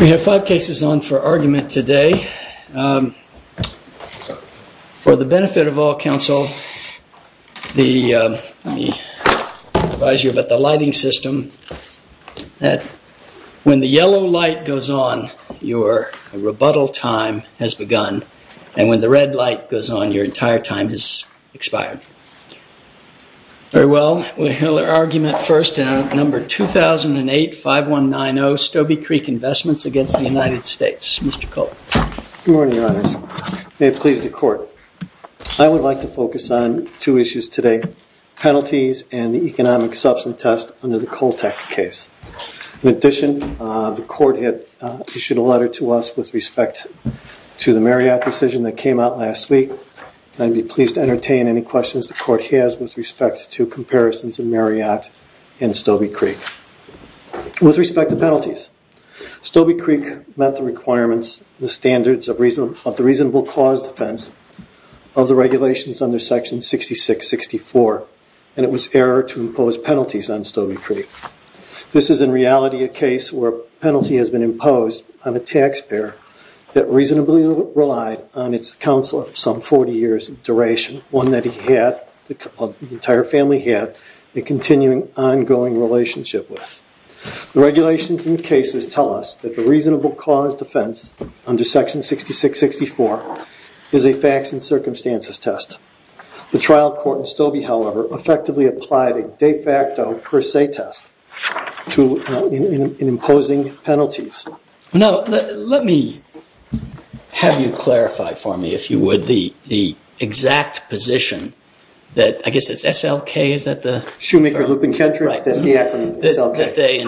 We have five cases on for argument today. For the benefit of all counsel, let me advise you about the lighting system. When the yellow light goes on, your rebuttal time has begun. And when the red light goes on, your entire time has expired. Very well, we'll hear the argument first in number 2008-5190, Stobie Creek Investments v. United States. Good morning, your honors. May it please the court. I would like to focus on two issues today, penalties and the economic substance test under the Coltec case. In addition, the court issued a letter to us with respect to the Marriott decision that came out last week. I'd be pleased to entertain any questions the court has with respect to comparisons of Marriott and Stobie Creek. With respect to penalties, Stobie Creek met the requirements, the standards of the reasonable cause defense of the regulations under section 6664. And it was error to impose penalties on Stobie Creek. This is in reality a case where a penalty has been imposed on a taxpayer that reasonably relied on its counsel some 40 years in duration. One that the entire family had a continuing, ongoing relationship with. The regulations in the cases tell us that the reasonable cause defense under section 6664 is a facts and circumstances test. The trial court in Stobie, however, effectively applied a de facto per se test in imposing penalties. Now, let me have you clarify for me, if you would, the exact position that, I guess it's SLK, is that the? Shoemaker, Lupin, Kendrick, that's the acronym, SLK.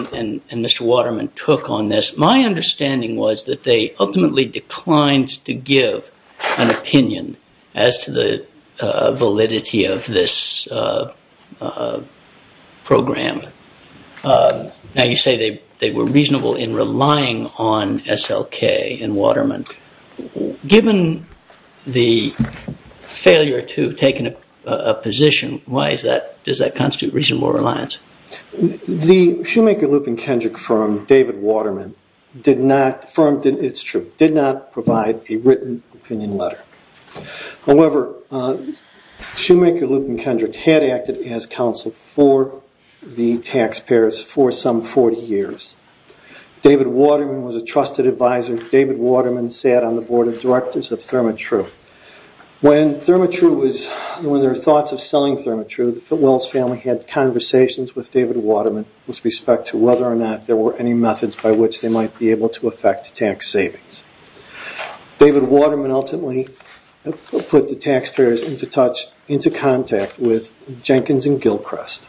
Mr. Waterman took on this. My understanding was that they ultimately declined to give an opinion as to the validity of this program. Now, you say they were reasonable in relying on SLK and Waterman. Given the failure to take a position, why does that constitute reasonable reliance? The Shoemaker, Lupin, Kendrick firm, David Waterman, did not, it's true, did not provide a written opinion letter. However, Shoemaker, Lupin, Kendrick had acted as counsel for the taxpayers for some 40 years. David Waterman was a trusted advisor. David Waterman sat on the board of directors of ThermaTru. When ThermaTru was, when their thoughts of selling ThermaTru, the Fittwells family had conversations with David Waterman with respect to whether or not there were any methods by which they might be able to affect tax savings. David Waterman ultimately put the taxpayers into touch, into contact with Jenkins and Gilchrist.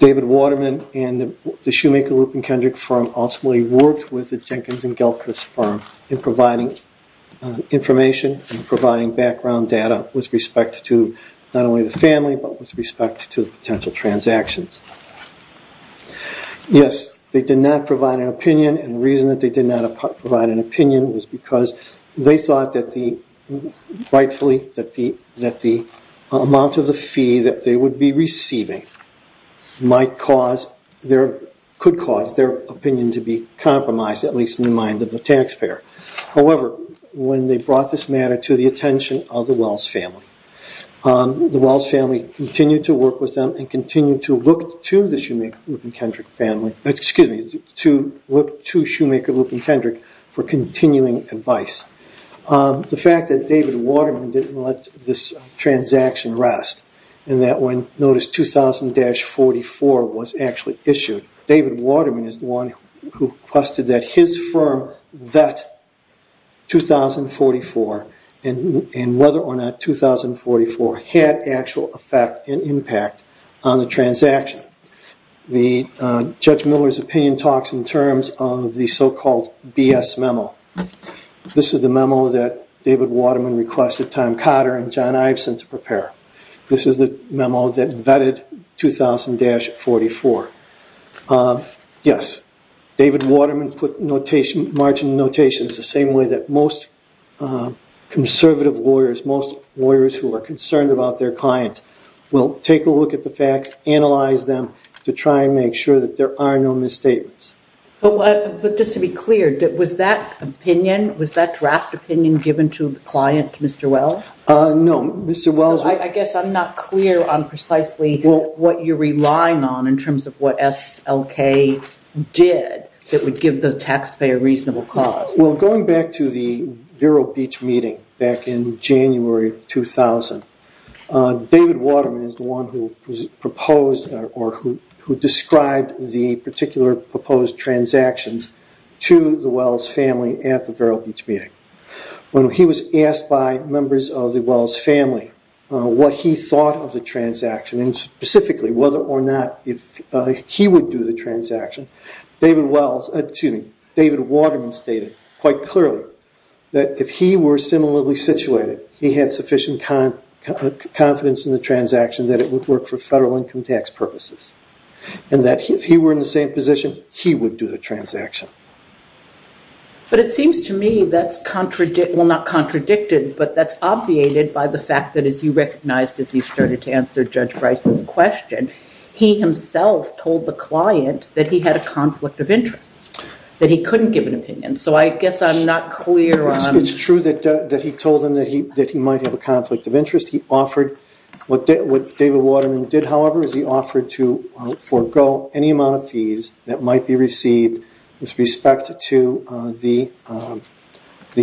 David Waterman and the Shoemaker, Lupin, Kendrick firm ultimately worked with the Jenkins and Gilchrist firm in providing information and providing background data with respect to not only the family but with respect to potential transactions. Yes, they did not provide an opinion and the reason that they did not provide an opinion was because they thought that the, rightfully, that the amount of the fee that they would be receiving could cause their opinion to be compromised, at least in the mind of the taxpayer. However, when they brought this matter to the attention of the Wells family, the Wells family continued to work with them and continued to look to the Shoemaker, Lupin, Kendrick family, excuse me, to look to Shoemaker, Lupin, Kendrick for continuing advice. The fact that David Waterman didn't let this transaction rest and that when notice 2000-44 was actually issued, David Waterman is the one who requested that his firm vet 2044 and whether or not 2044 had actual effect and impact on the transaction. Judge Miller's opinion talks in terms of the so-called BS memo. This is the memo that David Waterman requested Tom Cotter and John Iveson to prepare. This is the memo that vetted 2000-44. Yes, David Waterman put margin notations the same way that most conservative lawyers, most lawyers who are concerned about their clients will take a look at the facts, analyze them to try and make sure that there are no misstatements. But just to be clear, was that opinion, was that draft opinion given to the client, Mr. Wells? No, Mr. Wells. I guess I'm not clear on precisely what you're relying on in terms of what SLK did that would give the taxpayer a reasonable cause. Well, going back to the Vero Beach meeting back in January 2000, David Waterman is the one who proposed or who described the particular proposed transactions to the Wells family at the Vero Beach meeting. When he was asked by members of the Wells family what he thought of the transaction and specifically whether or not he would do the transaction, David Waterman stated quite clearly that if he were similarly situated, he had sufficient confidence in the transaction that it would work for federal income tax purposes and that if he were in the same position, he would do the transaction. But it seems to me that's, well, not contradicted, but that's obviated by the fact that as he recognized, as he started to answer Judge Bryce's question, he himself told the client that he had a conflict of interest, that he couldn't give an opinion. So I guess I'm not clear on- It's true that he told them that he might have a conflict of interest. He offered, what David Waterman did, however, is he offered to forego any amount of fees that might be received with respect to the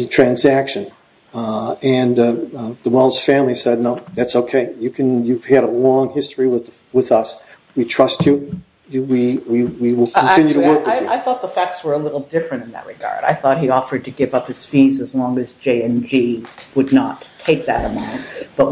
transaction. And the Wells family said, no, that's okay. You've had a long history with us. We trust you. We will continue to work with you. Actually, I thought the facts were a little different in that regard. I thought he offered to give up his fees as long as J&G would not take that amount. But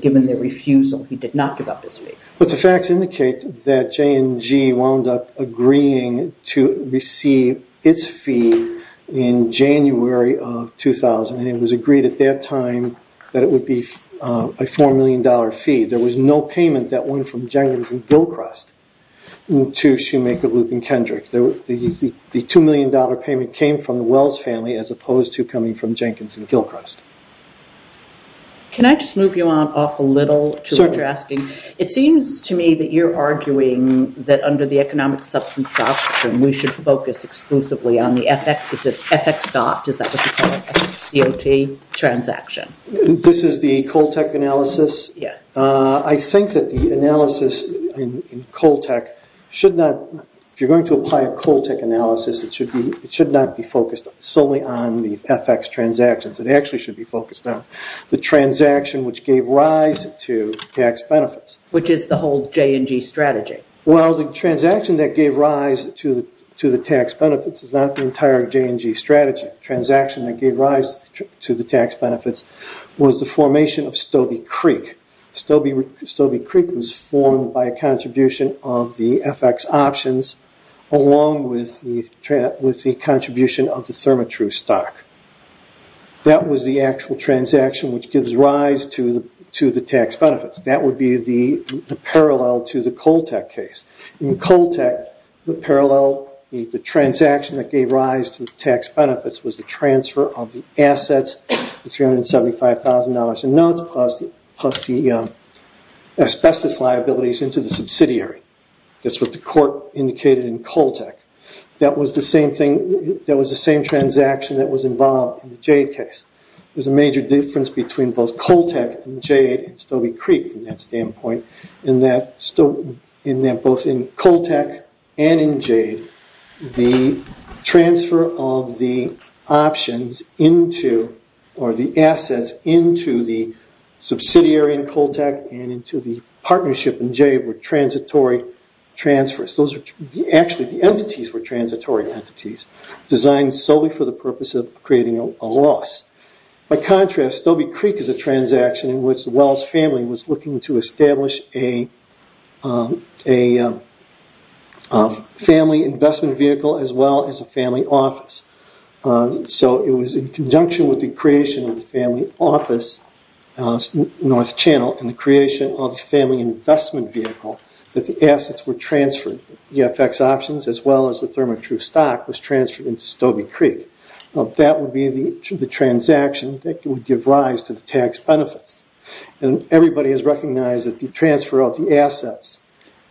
given their refusal, he did not give up his fees. But the facts indicate that J&G wound up agreeing to receive its fee in January of 2000, and it was agreed at that time that it would be a $4 million fee. There was no payment that went from Jenkins and Gilchrist to Shoemaker, Loop, and Kendrick. The $2 million payment came from the Wells family as opposed to coming from Jenkins and Gilchrist. Can I just move you on off a little to what you're asking? It seems to me that you're arguing that under the economic substance doctrine, we should focus exclusively on the FX dot, is that what you call it, F-C-O-T transaction. This is the Coltec analysis? Yes. I think that the analysis in Coltec should not, if you're going to apply a Coltec analysis, it should not be focused solely on the FX transactions. It actually should be focused on the transaction which gave rise to tax benefits. Which is the whole J&G strategy? Well, the transaction that gave rise to the tax benefits is not the entire J&G strategy. The transaction that gave rise to the tax benefits was the formation of Stobie Creek. Stobie Creek was formed by a contribution of the FX options along with the contribution of the ThermaTru stock. That was the actual transaction which gives rise to the tax benefits. That would be the parallel to the Coltec case. In Coltec, the parallel, the transaction that gave rise to the tax benefits was the transfer of the assets, the $375,000 in notes, plus the asbestos liabilities into the subsidiary. That's what the court indicated in Coltec. That was the same transaction that was involved in the Jade case. There's a major difference between both Coltec and Jade, and Stobie Creek from that standpoint, in that both in Coltec and in Jade, the transfer of the options into or the assets into the subsidiary in Coltec and into the partnership in Jade were transitory transfers. Actually, the entities were transitory entities, designed solely for the purpose of creating a loss. By contrast, Stobie Creek is a transaction in which the Wells family was looking to establish a family investment vehicle as well as a family office. It was in conjunction with the creation of the family office, North Channel, and the creation of the family investment vehicle that the assets were transferred. The FX options as well as the ThermaTrue stock was transferred into Stobie Creek. That would be the transaction that would give rise to the tax benefits. Everybody has recognized that the transfer of the assets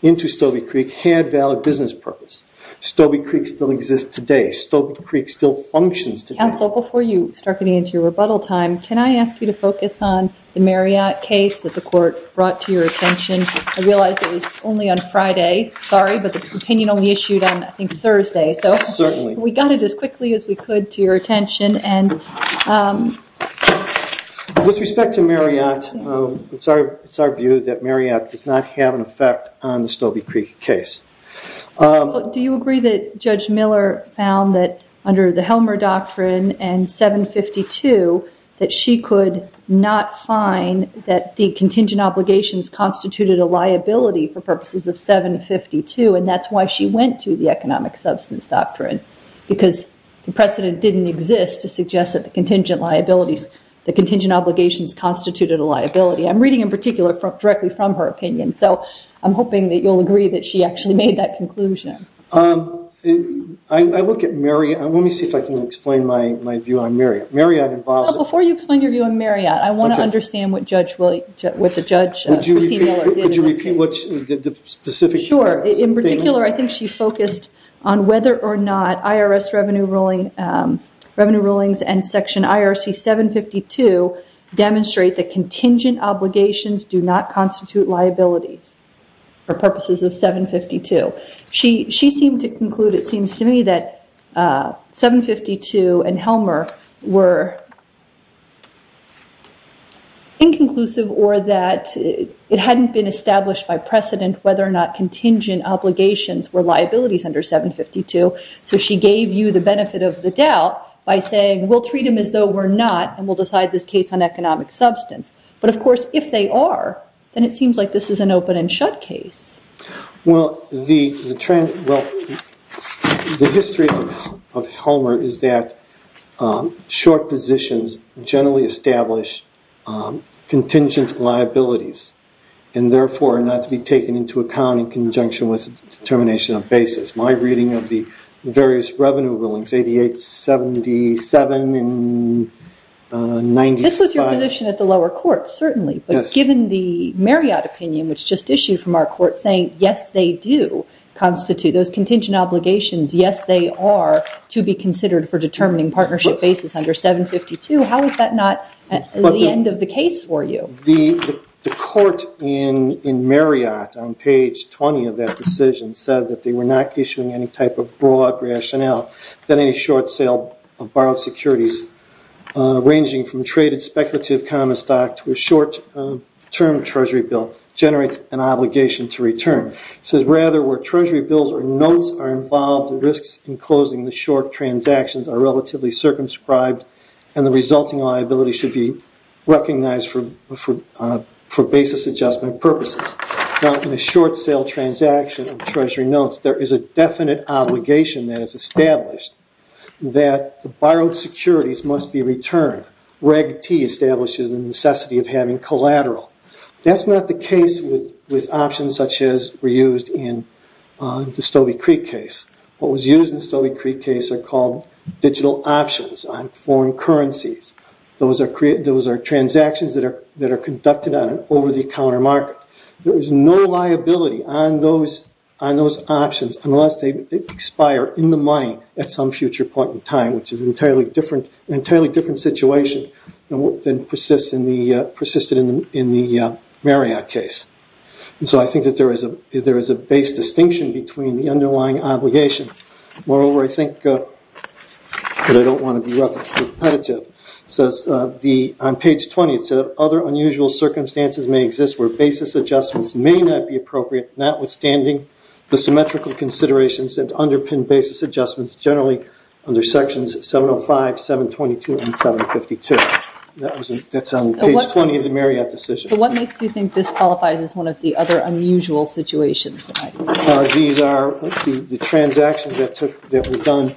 into Stobie Creek had valid business purpose. Stobie Creek still exists today. Stobie Creek still functions today. Counsel, before you start getting into your rebuttal time, can I ask you to focus on the Marriott case that the court brought to your attention? I realize it was only on Friday. Sorry, but the opinion only issued on, I think, Thursday. Certainly. We got it as quickly as we could to your attention. With respect to Marriott, it's our view that Marriott does not have an effect on the Stobie Creek case. Do you agree that Judge Miller found that under the Helmer Doctrine and 752 that she could not find that the contingent obligations constituted a liability for purposes of 752, and that's why she went to the economic substance doctrine? Because the precedent didn't exist to suggest that the contingent obligations constituted a liability. I'm reading in particular directly from her opinion, so I'm hoping that you'll agree that she actually made that conclusion. I look at Marriott. Let me see if I can explain my view on Marriott. Before you explain your view on Marriott, I want to understand what the judge, Christine Miller, did in this case. Sure. In particular, I think she focused on whether or not IRS revenue rulings and Section IRC 752 demonstrate that contingent obligations do not constitute liabilities for purposes of 752. She seemed to conclude, it seems to me, that 752 and Helmer were inconclusive or that it hadn't been established by precedent whether or not contingent obligations were liabilities under 752. So she gave you the benefit of the doubt by saying, we'll treat them as though we're not and we'll decide this case on economic substance. But, of course, if they are, then it seems like this is an open and shut case. Well, the history of Helmer is that short positions generally establish contingent liabilities and, therefore, are not to be taken into account in conjunction with determination of basis. My reading of the various revenue rulings, 88, 77, and 95. This was your position at the lower court, certainly. But given the Marriott opinion, which just issued from our court, saying, yes, they do constitute those contingent obligations, yes, they are to be considered for determining partnership basis under 752, how is that not the end of the case for you? The court in Marriott on page 20 of that decision said that they were not issuing any type of broad rationale for any short sale of borrowed securities, ranging from traded speculative common stock to a short-term Treasury bill, generates an obligation to return. It says, rather, where Treasury bills or notes are involved, the risks in closing the short transactions are relatively circumscribed and the resulting liability should be recognized for basis adjustment purposes. Now, in a short sale transaction of Treasury notes, there is a definite obligation that is established that the borrowed securities must be returned. Reg T establishes the necessity of having collateral. That's not the case with options such as were used in the Stobie Creek case. What was used in the Stobie Creek case are called digital options on foreign currencies. Those are transactions that are conducted on an over-the-counter market. There is no liability on those options unless they expire in the money at some future point in time, which is an entirely different situation than persisted in the Marriott case. So I think that there is a base distinction between the underlying obligation. Moreover, I think that I don't want to be repetitive. It says on page 20, other unusual circumstances may exist where basis adjustments may not be appropriate, notwithstanding the symmetrical considerations and underpinned basis adjustments, generally under sections 705, 722, and 752. That's on page 20 of the Marriott decision. So what makes you think this qualifies as one of the other unusual situations? The transactions that were done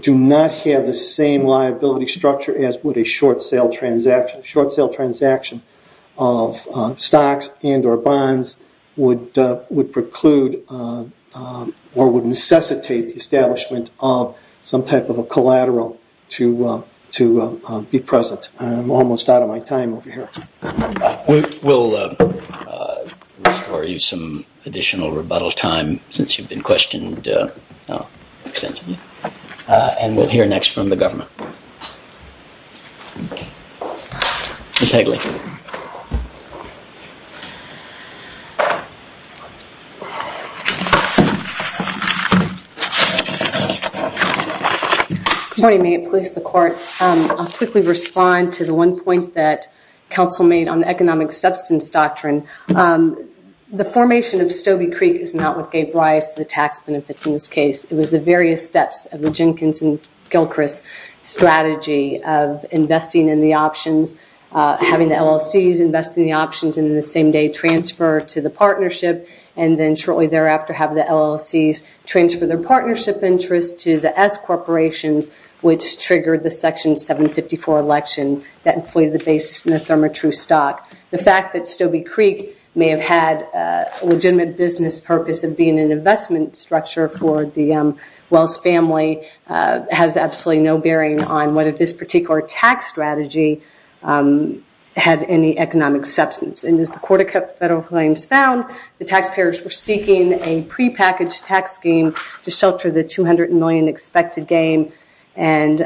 do not have the same liability structure as would a short-sale transaction. A short-sale transaction of stocks and or bonds would preclude or would necessitate the establishment of some type of a collateral to be present. I'm almost out of my time over here. We'll restore you some additional rebuttal time since you've been questioned extensively. And we'll hear next from the government. Ms. Hagley. Good morning. May it please the Court. I'll quickly respond to the one point that counsel made on the economic substance doctrine. The formation of Stobie Creek is not what gave Rice the tax benefits in this case. It was the various steps of the Jenkins and Gilchrist strategy of investing in the options, having the LLCs invest in the options and then the same day transfer to the partnership and then shortly thereafter have the LLCs transfer their partnership interest to the S corporations, which triggered the Section 754 election that inflated the basis in the ThermaTrue stock. The fact that Stobie Creek may have had a legitimate business purpose of being an investment structure for the Wells family has absolutely no bearing on whether this particular tax strategy had any economic substance. And as the Court of Federal Claims found, the taxpayers were seeking a prepackaged tax scheme to shelter the $200 million expected gain. And,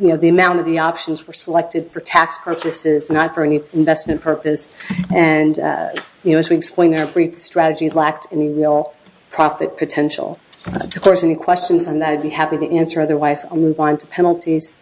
you know, the amount of the options were selected for tax purposes, not for any investment purpose. And, you know, as we explained in our brief, the strategy lacked any real profit potential. Of course, any questions on that I'd be happy to answer. Otherwise, I'll move on to penalties.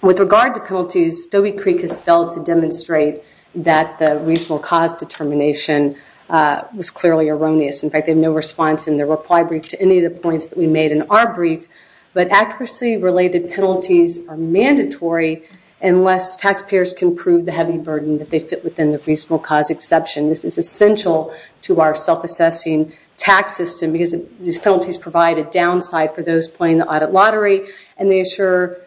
With regard to penalties, Stobie Creek has failed to demonstrate that the reasonable cause determination was clearly erroneous. In fact, they have no response in their reply brief to any of the points that we made in our brief. But accuracy-related penalties are mandatory unless taxpayers can prove the heavy burden that they fit within the reasonable cause exception. This is essential to our self-assessing tax system because these penalties provide a downside for those playing the audit lottery. And they assure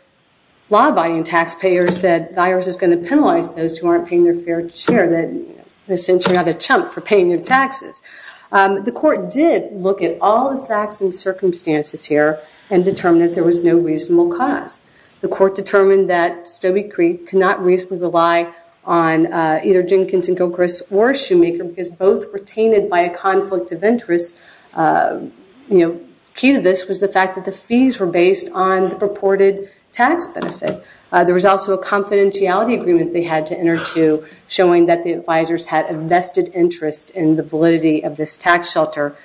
law-abiding taxpayers that the IRS is going to penalize those who aren't paying their fair share, since you're not a chump for paying your taxes. The court did look at all the facts and circumstances here and determined that there was no reasonable cause. The court determined that Stobie Creek could not reasonably rely on either Jenkins & Gilchrist or Shoemaker because both were tainted by a conflict of interest. You know, key to this was the fact that the fees were based on the purported tax benefit. There was also a confidentiality agreement they had to enter to, showing that the advisors had a vested interest in the validity of this tax shelter.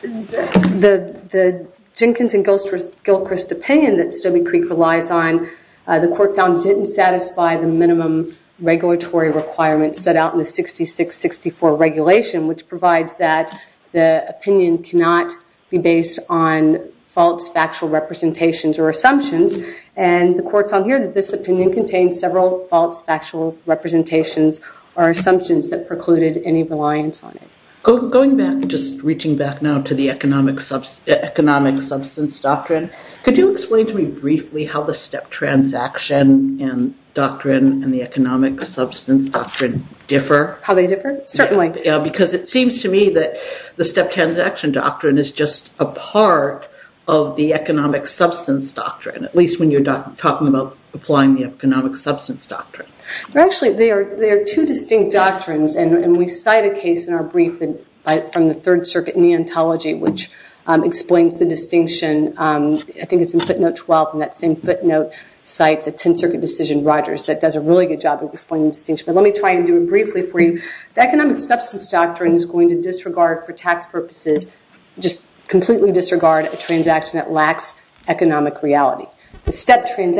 The Jenkins & Gilchrist opinion that Stobie Creek relies on, the court found didn't satisfy the minimum regulatory requirements set out in the 66-64 regulation, which provides that the opinion cannot be based on false factual representations or assumptions. And the court found here that this opinion contains several false factual representations or assumptions that precluded any reliance on it. Going back, just reaching back now to the economic substance doctrine, could you explain to me briefly how the step transaction doctrine and the economic substance doctrine differ? How they differ? Certainly. Because it seems to me that the step transaction doctrine is just a part of the economic substance doctrine, at least when you're talking about applying the economic substance doctrine. Actually, there are two distinct doctrines, and we cite a case in our brief from the Third Circuit Neonatology, which explains the distinction. I think it's in footnote 12, and that same footnote cites a Tenth Circuit decision, Rogers, that does a really good job of explaining the distinction. But let me try and do it briefly for you. The economic substance doctrine is going to disregard, for tax purposes, just completely disregard a transaction that lacks economic reality. Looking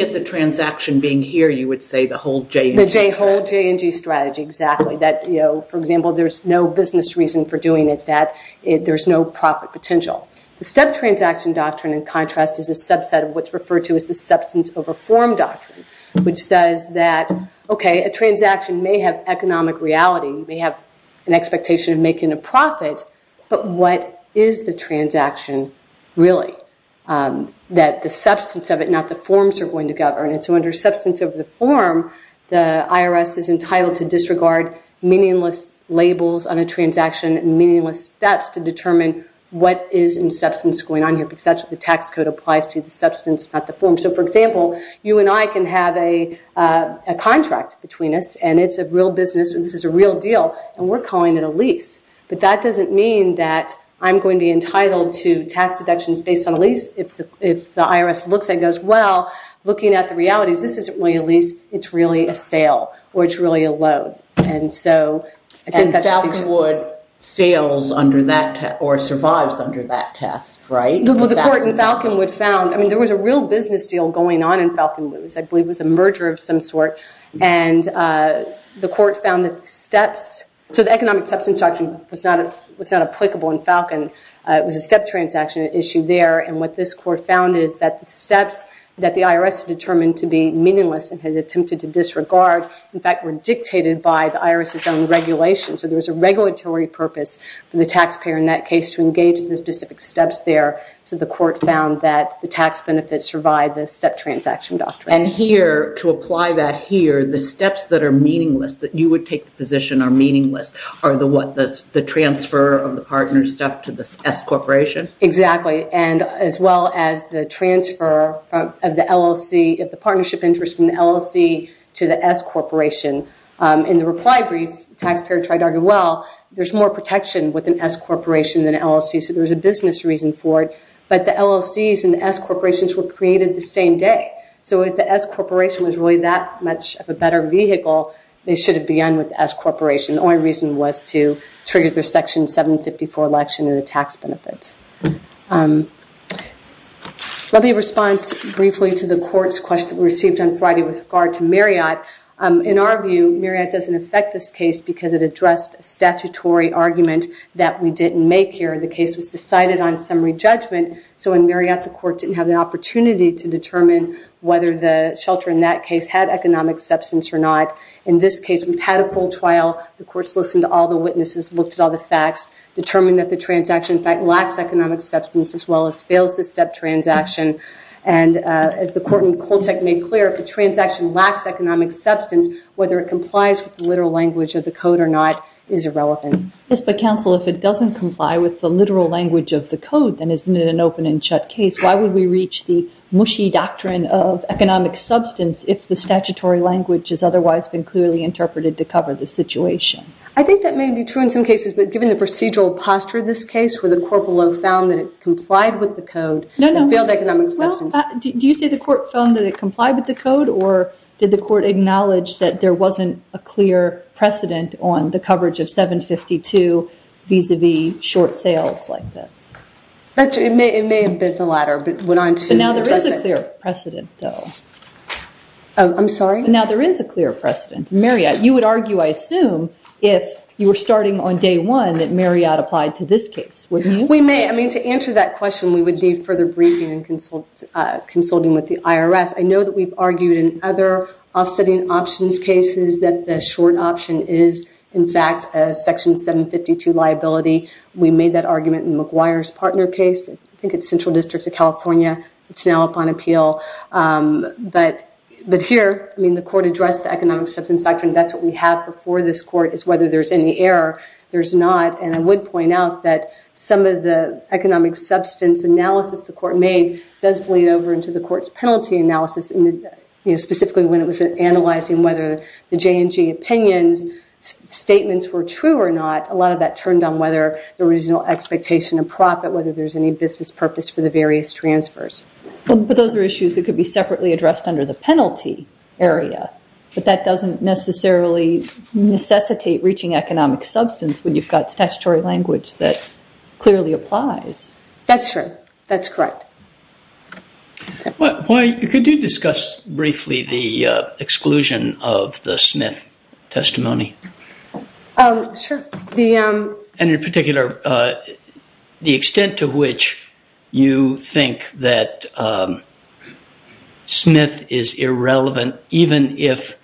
at the transaction being here, you would say the whole J&G strategy. The whole J&G strategy, exactly. For example, there's no business reason for doing it that there's no profit potential. The step transaction doctrine, in contrast, is a subset of what's referred to as the substance over form doctrine, which says that, okay, a transaction may have economic reality, may have an expectation of making a profit, but what is the transaction really? That the substance of it, not the forms, are going to govern it. So under substance over the form, the IRS is entitled to disregard meaningless labels on a transaction, meaningless steps to determine what is in substance going on here, because that's what the tax code applies to, the substance, not the form. So, for example, you and I can have a contract between us, and it's a real business, and this is a real deal, and we're calling it a lease. But that doesn't mean that I'm going to be entitled to tax deductions based on a lease. If the IRS looks at it and goes, well, looking at the realities, this isn't really a lease. It's really a sale, or it's really a loan. And so I think that's the distinction. And Falconwood fails under that, or survives under that test, right? Well, the court in Falconwood found, I mean, there was a real business deal going on in Falconwood, I believe it was a merger of some sort, and the court found that the steps, so the economic substance doctrine was not applicable in Falcon. It was a step transaction issue there, and what this court found is that the steps that the IRS determined to be meaningless and had attempted to disregard, in fact, were dictated by the IRS's own regulations. So there was a regulatory purpose for the taxpayer in that case to engage in the specific steps there. So the court found that the tax benefits survive the step transaction doctrine. And here, to apply that here, the steps that are meaningless, that you would take the position are meaningless, are the what, the transfer of the partner's step to the S Corporation? Exactly, and as well as the transfer of the LLC, of the partnership interest from the LLC to the S Corporation. In the reply brief, the taxpayer tried to argue, well, there's more protection with an S Corporation than an LLC, so there was a business reason for it, but the LLCs and the S Corporations were created the same day. So if the S Corporation was really that much of a better vehicle, they should have begun with the S Corporation. The only reason was to trigger their Section 754 election and the tax benefits. Let me respond briefly to the court's question we received on Friday with regard to Marriott. In our view, Marriott doesn't affect this case because it addressed a statutory argument that we didn't make here. The case was decided on summary judgment, so in Marriott, the court didn't have the opportunity to determine whether the shelter in that case had economic substance or not. In this case, we've had a full trial. The court's listened to all the witnesses, looked at all the facts, determined that the transaction, in fact, lacks economic substance, as well as fails the step transaction. As the court in Koltek made clear, if a transaction lacks economic substance, whether it complies with the literal language of the code or not is irrelevant. Yes, but counsel, if it doesn't comply with the literal language of the code, then isn't it an open and shut case? Why would we reach the mushy doctrine of economic substance if the statutory language has otherwise been clearly interpreted to cover the situation? I think that may be true in some cases, but given the procedural posture of this case, where the corporal found that it complied with the code, it failed economic substance. Do you think the court found that it complied with the code, or did the court acknowledge that there wasn't a clear precedent on the coverage of 752 vis-à-vis short sales like this? It may have been the latter, but went on to be a precedent. But now there is a clear precedent, though. I'm sorry? Now there is a clear precedent. Marriott, you would argue, I assume, if you were starting on day one that Marriott applied to this case, wouldn't you? We may. I mean, to answer that question, we would need further briefing and consulting with the IRS. I know that we've argued in other offsetting options cases that the short option is, in fact, a Section 752 liability. We made that argument in McGuire's partner case. I think it's Central District of California. It's now up on appeal. But here, I mean, the court addressed the economic substance doctrine. That's what we have before this court is whether there's any error. There's not. And I would point out that some of the economic substance analysis the court made does bleed over into the court's penalty analysis, specifically when it was analyzing whether the J&G opinions statements were true or not. A lot of that turned on whether the original expectation of profit, whether there's any business purpose for the various transfers. But those are issues that could be separately addressed under the penalty area. But that doesn't necessarily necessitate reaching economic substance when you've got statutory language that clearly applies. That's true. That's correct. Why, could you discuss briefly the exclusion of the Smith testimony? Sure. And in particular, the extent to which you think that Smith is irrelevant, even if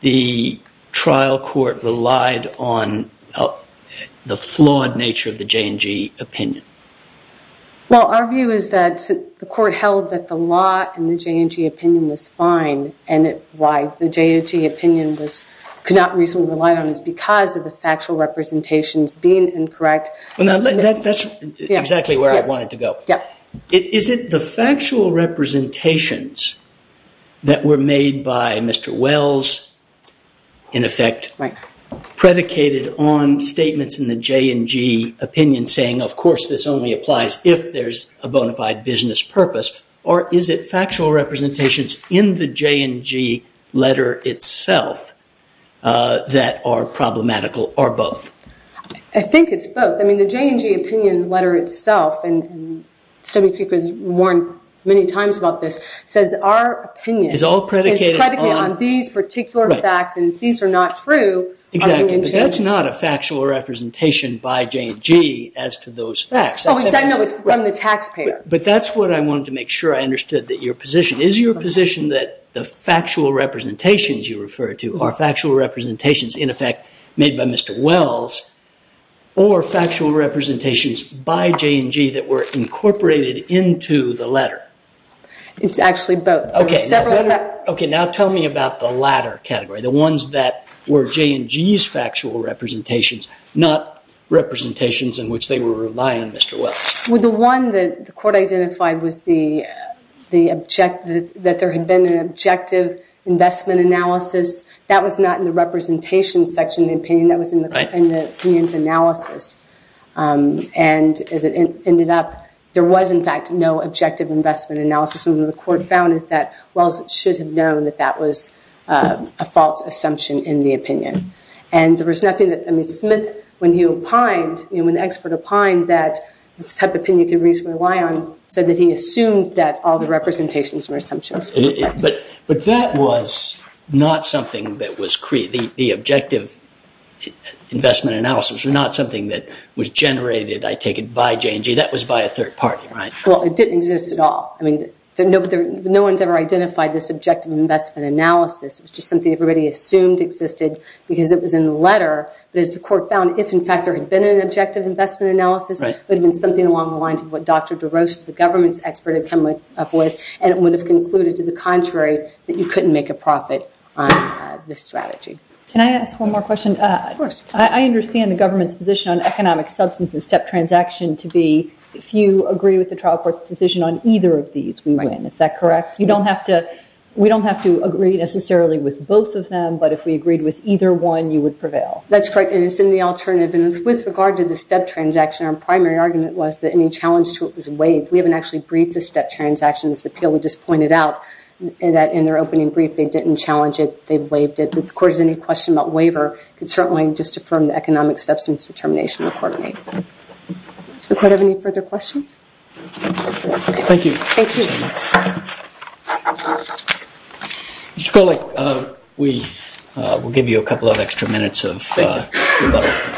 the trial court relied on the flawed nature of the J&G opinion? Well, our view is that the court held that the law in the J&G opinion was fine and why the J&G opinion could not reasonably be relied on is because of the factual representations being incorrect. That's exactly where I wanted to go. Is it the factual representations that were made by Mr. Wells, in effect, predicated on statements in the J&G opinion saying, of course this only applies if there's a bona fide business purpose, or is it factual representations in the J&G letter itself that are problematical or both? I think it's both. I mean, the J&G opinion letter itself, and Debbie Peek has warned many times about this, says our opinion is predicated on these particular facts and these are not true. Exactly, but that's not a factual representation by J&G as to those facts. Oh, it's from the taxpayer. But that's what I wanted to make sure I understood, that your position. Is your position that the factual representations you refer to are factual representations, in effect, made by Mr. Wells, or factual representations by J&G that were incorporated into the letter? It's actually both. Okay, now tell me about the latter category, the ones that were J&G's factual representations, not representations in which they were relying on Mr. Wells. Well, the one that the court identified was that there had been an objective investment analysis. That was not in the representation section of the opinion. That was in the opinion's analysis. And as it ended up, there was, in fact, no objective investment analysis. And what the court found is that Wells should have known that that was a false assumption in the opinion. And there was nothing that, I mean, Smith, when he opined, when the expert opined that this type of opinion could reasonably rely on, said that he assumed that all the representations were assumptions. But that was not something that was created. The objective investment analysis was not something that was generated, I take it, by J&G. That was by a third party, right? Well, it didn't exist at all. I mean, no one's ever identified this objective investment analysis. It was just something everybody assumed existed because it was in the letter. But as the court found, if, in fact, there had been an objective investment analysis, it would have been something along the lines of what Dr. DeRose, the government's expert, had come up with, and it would have concluded, to the contrary, that you couldn't make a profit on this strategy. Can I ask one more question? Of course. I understand the government's position on economic substance and step transaction to be, if you agree with the trial court's decision on either of these, we win. Is that correct? We don't have to agree necessarily with both of them, but if we agreed with either one, you would prevail. That's correct, and it's in the alternative. And with regard to the step transaction, our primary argument was that any challenge to it was waived. We haven't actually briefed the step transaction. This appeal, we just pointed out that in their opening brief, they didn't challenge it. They waived it. If the court has any question about waiver, it can certainly just affirm the economic substance determination the court made. Does the court have any further questions? Thank you. Thank you. Mr. Kolek, we'll give you a couple of extra minutes of rebuttal.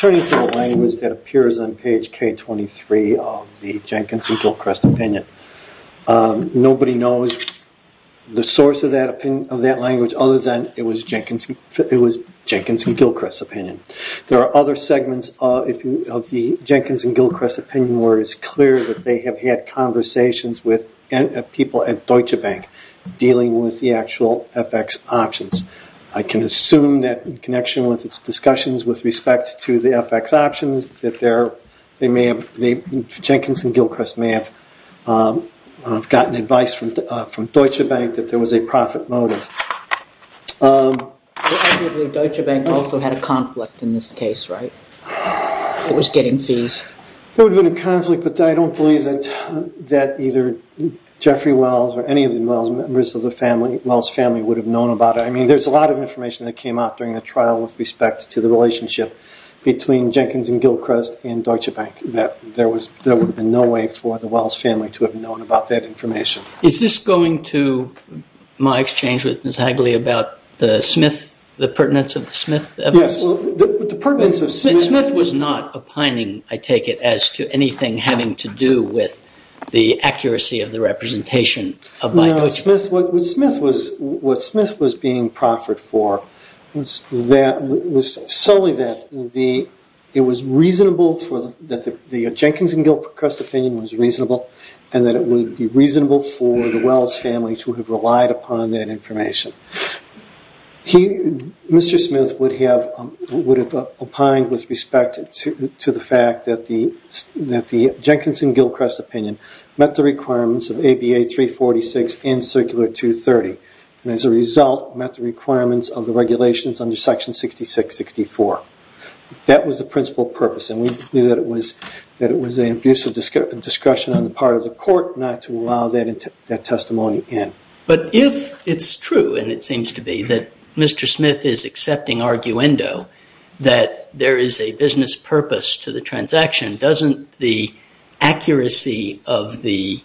Turning to the language that appears on page K23 of the Jenkins and Gilchrist opinion, nobody knows the source of that language other than it was Jenkins and Gilchrist's opinion. There are other segments of the Jenkins and Gilchrist opinion where it's clear that they have had conversations with people at Deutsche Bank dealing with the actual FX options. I can assume that in connection with its discussions with respect to the FX options, that Jenkins and Gilchrist may have gotten advice from Deutsche Bank that there was a profit motive. Deutsche Bank also had a conflict in this case, right? It was getting fees. There would have been a conflict, but I don't believe that either Jeffrey Wells or any of the Wells members of the Wells family would have known about it. There's a lot of information that came out during the trial with respect to the relationship between Jenkins and Gilchrist and Deutsche Bank, that there would have been no way for the Wells family to have known about that information. Is this going to my exchange with Ms. Hagley about the Smith, the pertinence of the Smith evidence? Yes, well, the pertinence of Smith... Smith was not opining, I take it, as to anything having to do with the accuracy of the representation by Deutsche Bank. What Smith was being proffered for was solely that the Jenkins and Gilchrist opinion was reasonable and that it would be reasonable for the Wells family to have relied upon that information. Mr. Smith would have opined with respect to the fact that the Jenkins and Gilchrist opinion met the requirements of ABA 346 and Circular 230, and as a result met the requirements of the regulations under Section 6664. That was the principal purpose, and we believe that it was an abuse of discretion on the part of the court not to allow that testimony in. But if it's true, and it seems to be, that Mr. Smith is accepting arguendo that there is a business purpose to the transaction, doesn't the accuracy of the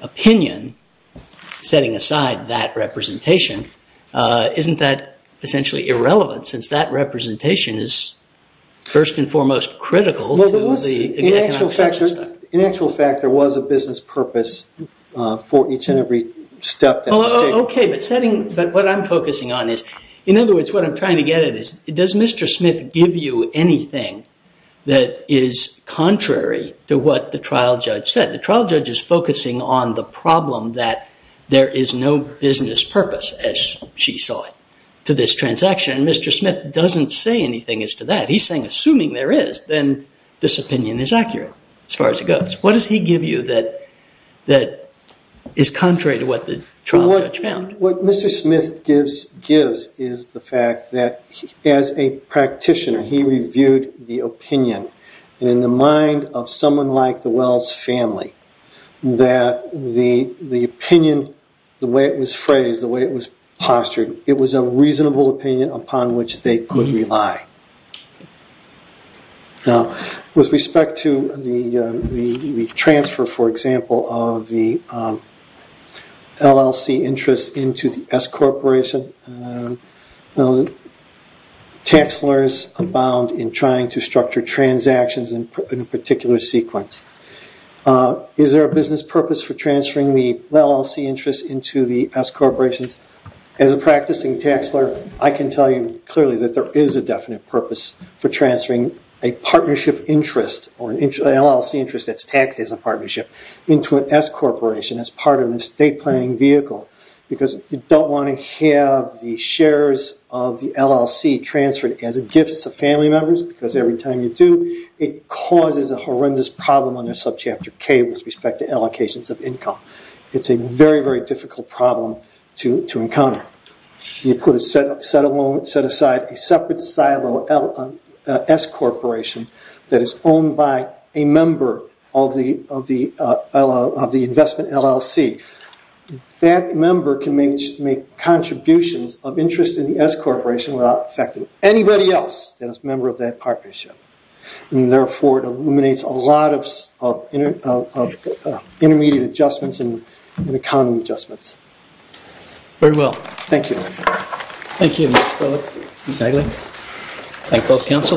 opinion setting aside that representation, isn't that essentially irrelevant since that representation is first and foremost critical to the economic... In actual fact, there was a business purpose for each and every step... But what I'm focusing on is, in other words, what I'm trying to get at is, does Mr. Smith give you anything that is contrary to what the trial judge said? The trial judge is focusing on the problem that there is no business purpose, as she saw it, to this transaction. Mr. Smith doesn't say anything as to that. He's saying, assuming there is, then this opinion is accurate as far as it goes. What does he give you that is contrary to what the trial judge found? What Mr. Smith gives is the fact that, as a practitioner, he reviewed the opinion. In the mind of someone like the Wells family, that the opinion, the way it was phrased, the way it was postured, it was a reasonable opinion upon which they could rely. Now, with respect to the transfer, for example, of the LLC interest into the S Corporation, tax lawyers abound in trying to structure transactions in a particular sequence. Is there a business purpose for transferring the LLC interest into the S Corporation? As a practicing tax lawyer, I can tell you clearly that there is a definite purpose for transferring a partnership interest, or an LLC interest that's taxed as a partnership, into an S Corporation as part of an estate planning vehicle, because you don't want to have the shares of the LLC transferred as gifts to family members, because every time you do, it causes a horrendous problem under subchapter K with respect to allocations of income. It's a very, very difficult problem to encounter. You could set aside a separate silo S Corporation that is owned by a member of the investment LLC. That member can make contributions of interest in the S Corporation without affecting anybody else that is a member of that partnership. Therefore, it eliminates a lot of intermediate adjustments and income adjustments. Very well. Thank you. Thank you, Mr. Phillips. Exactly. Thank both counsels.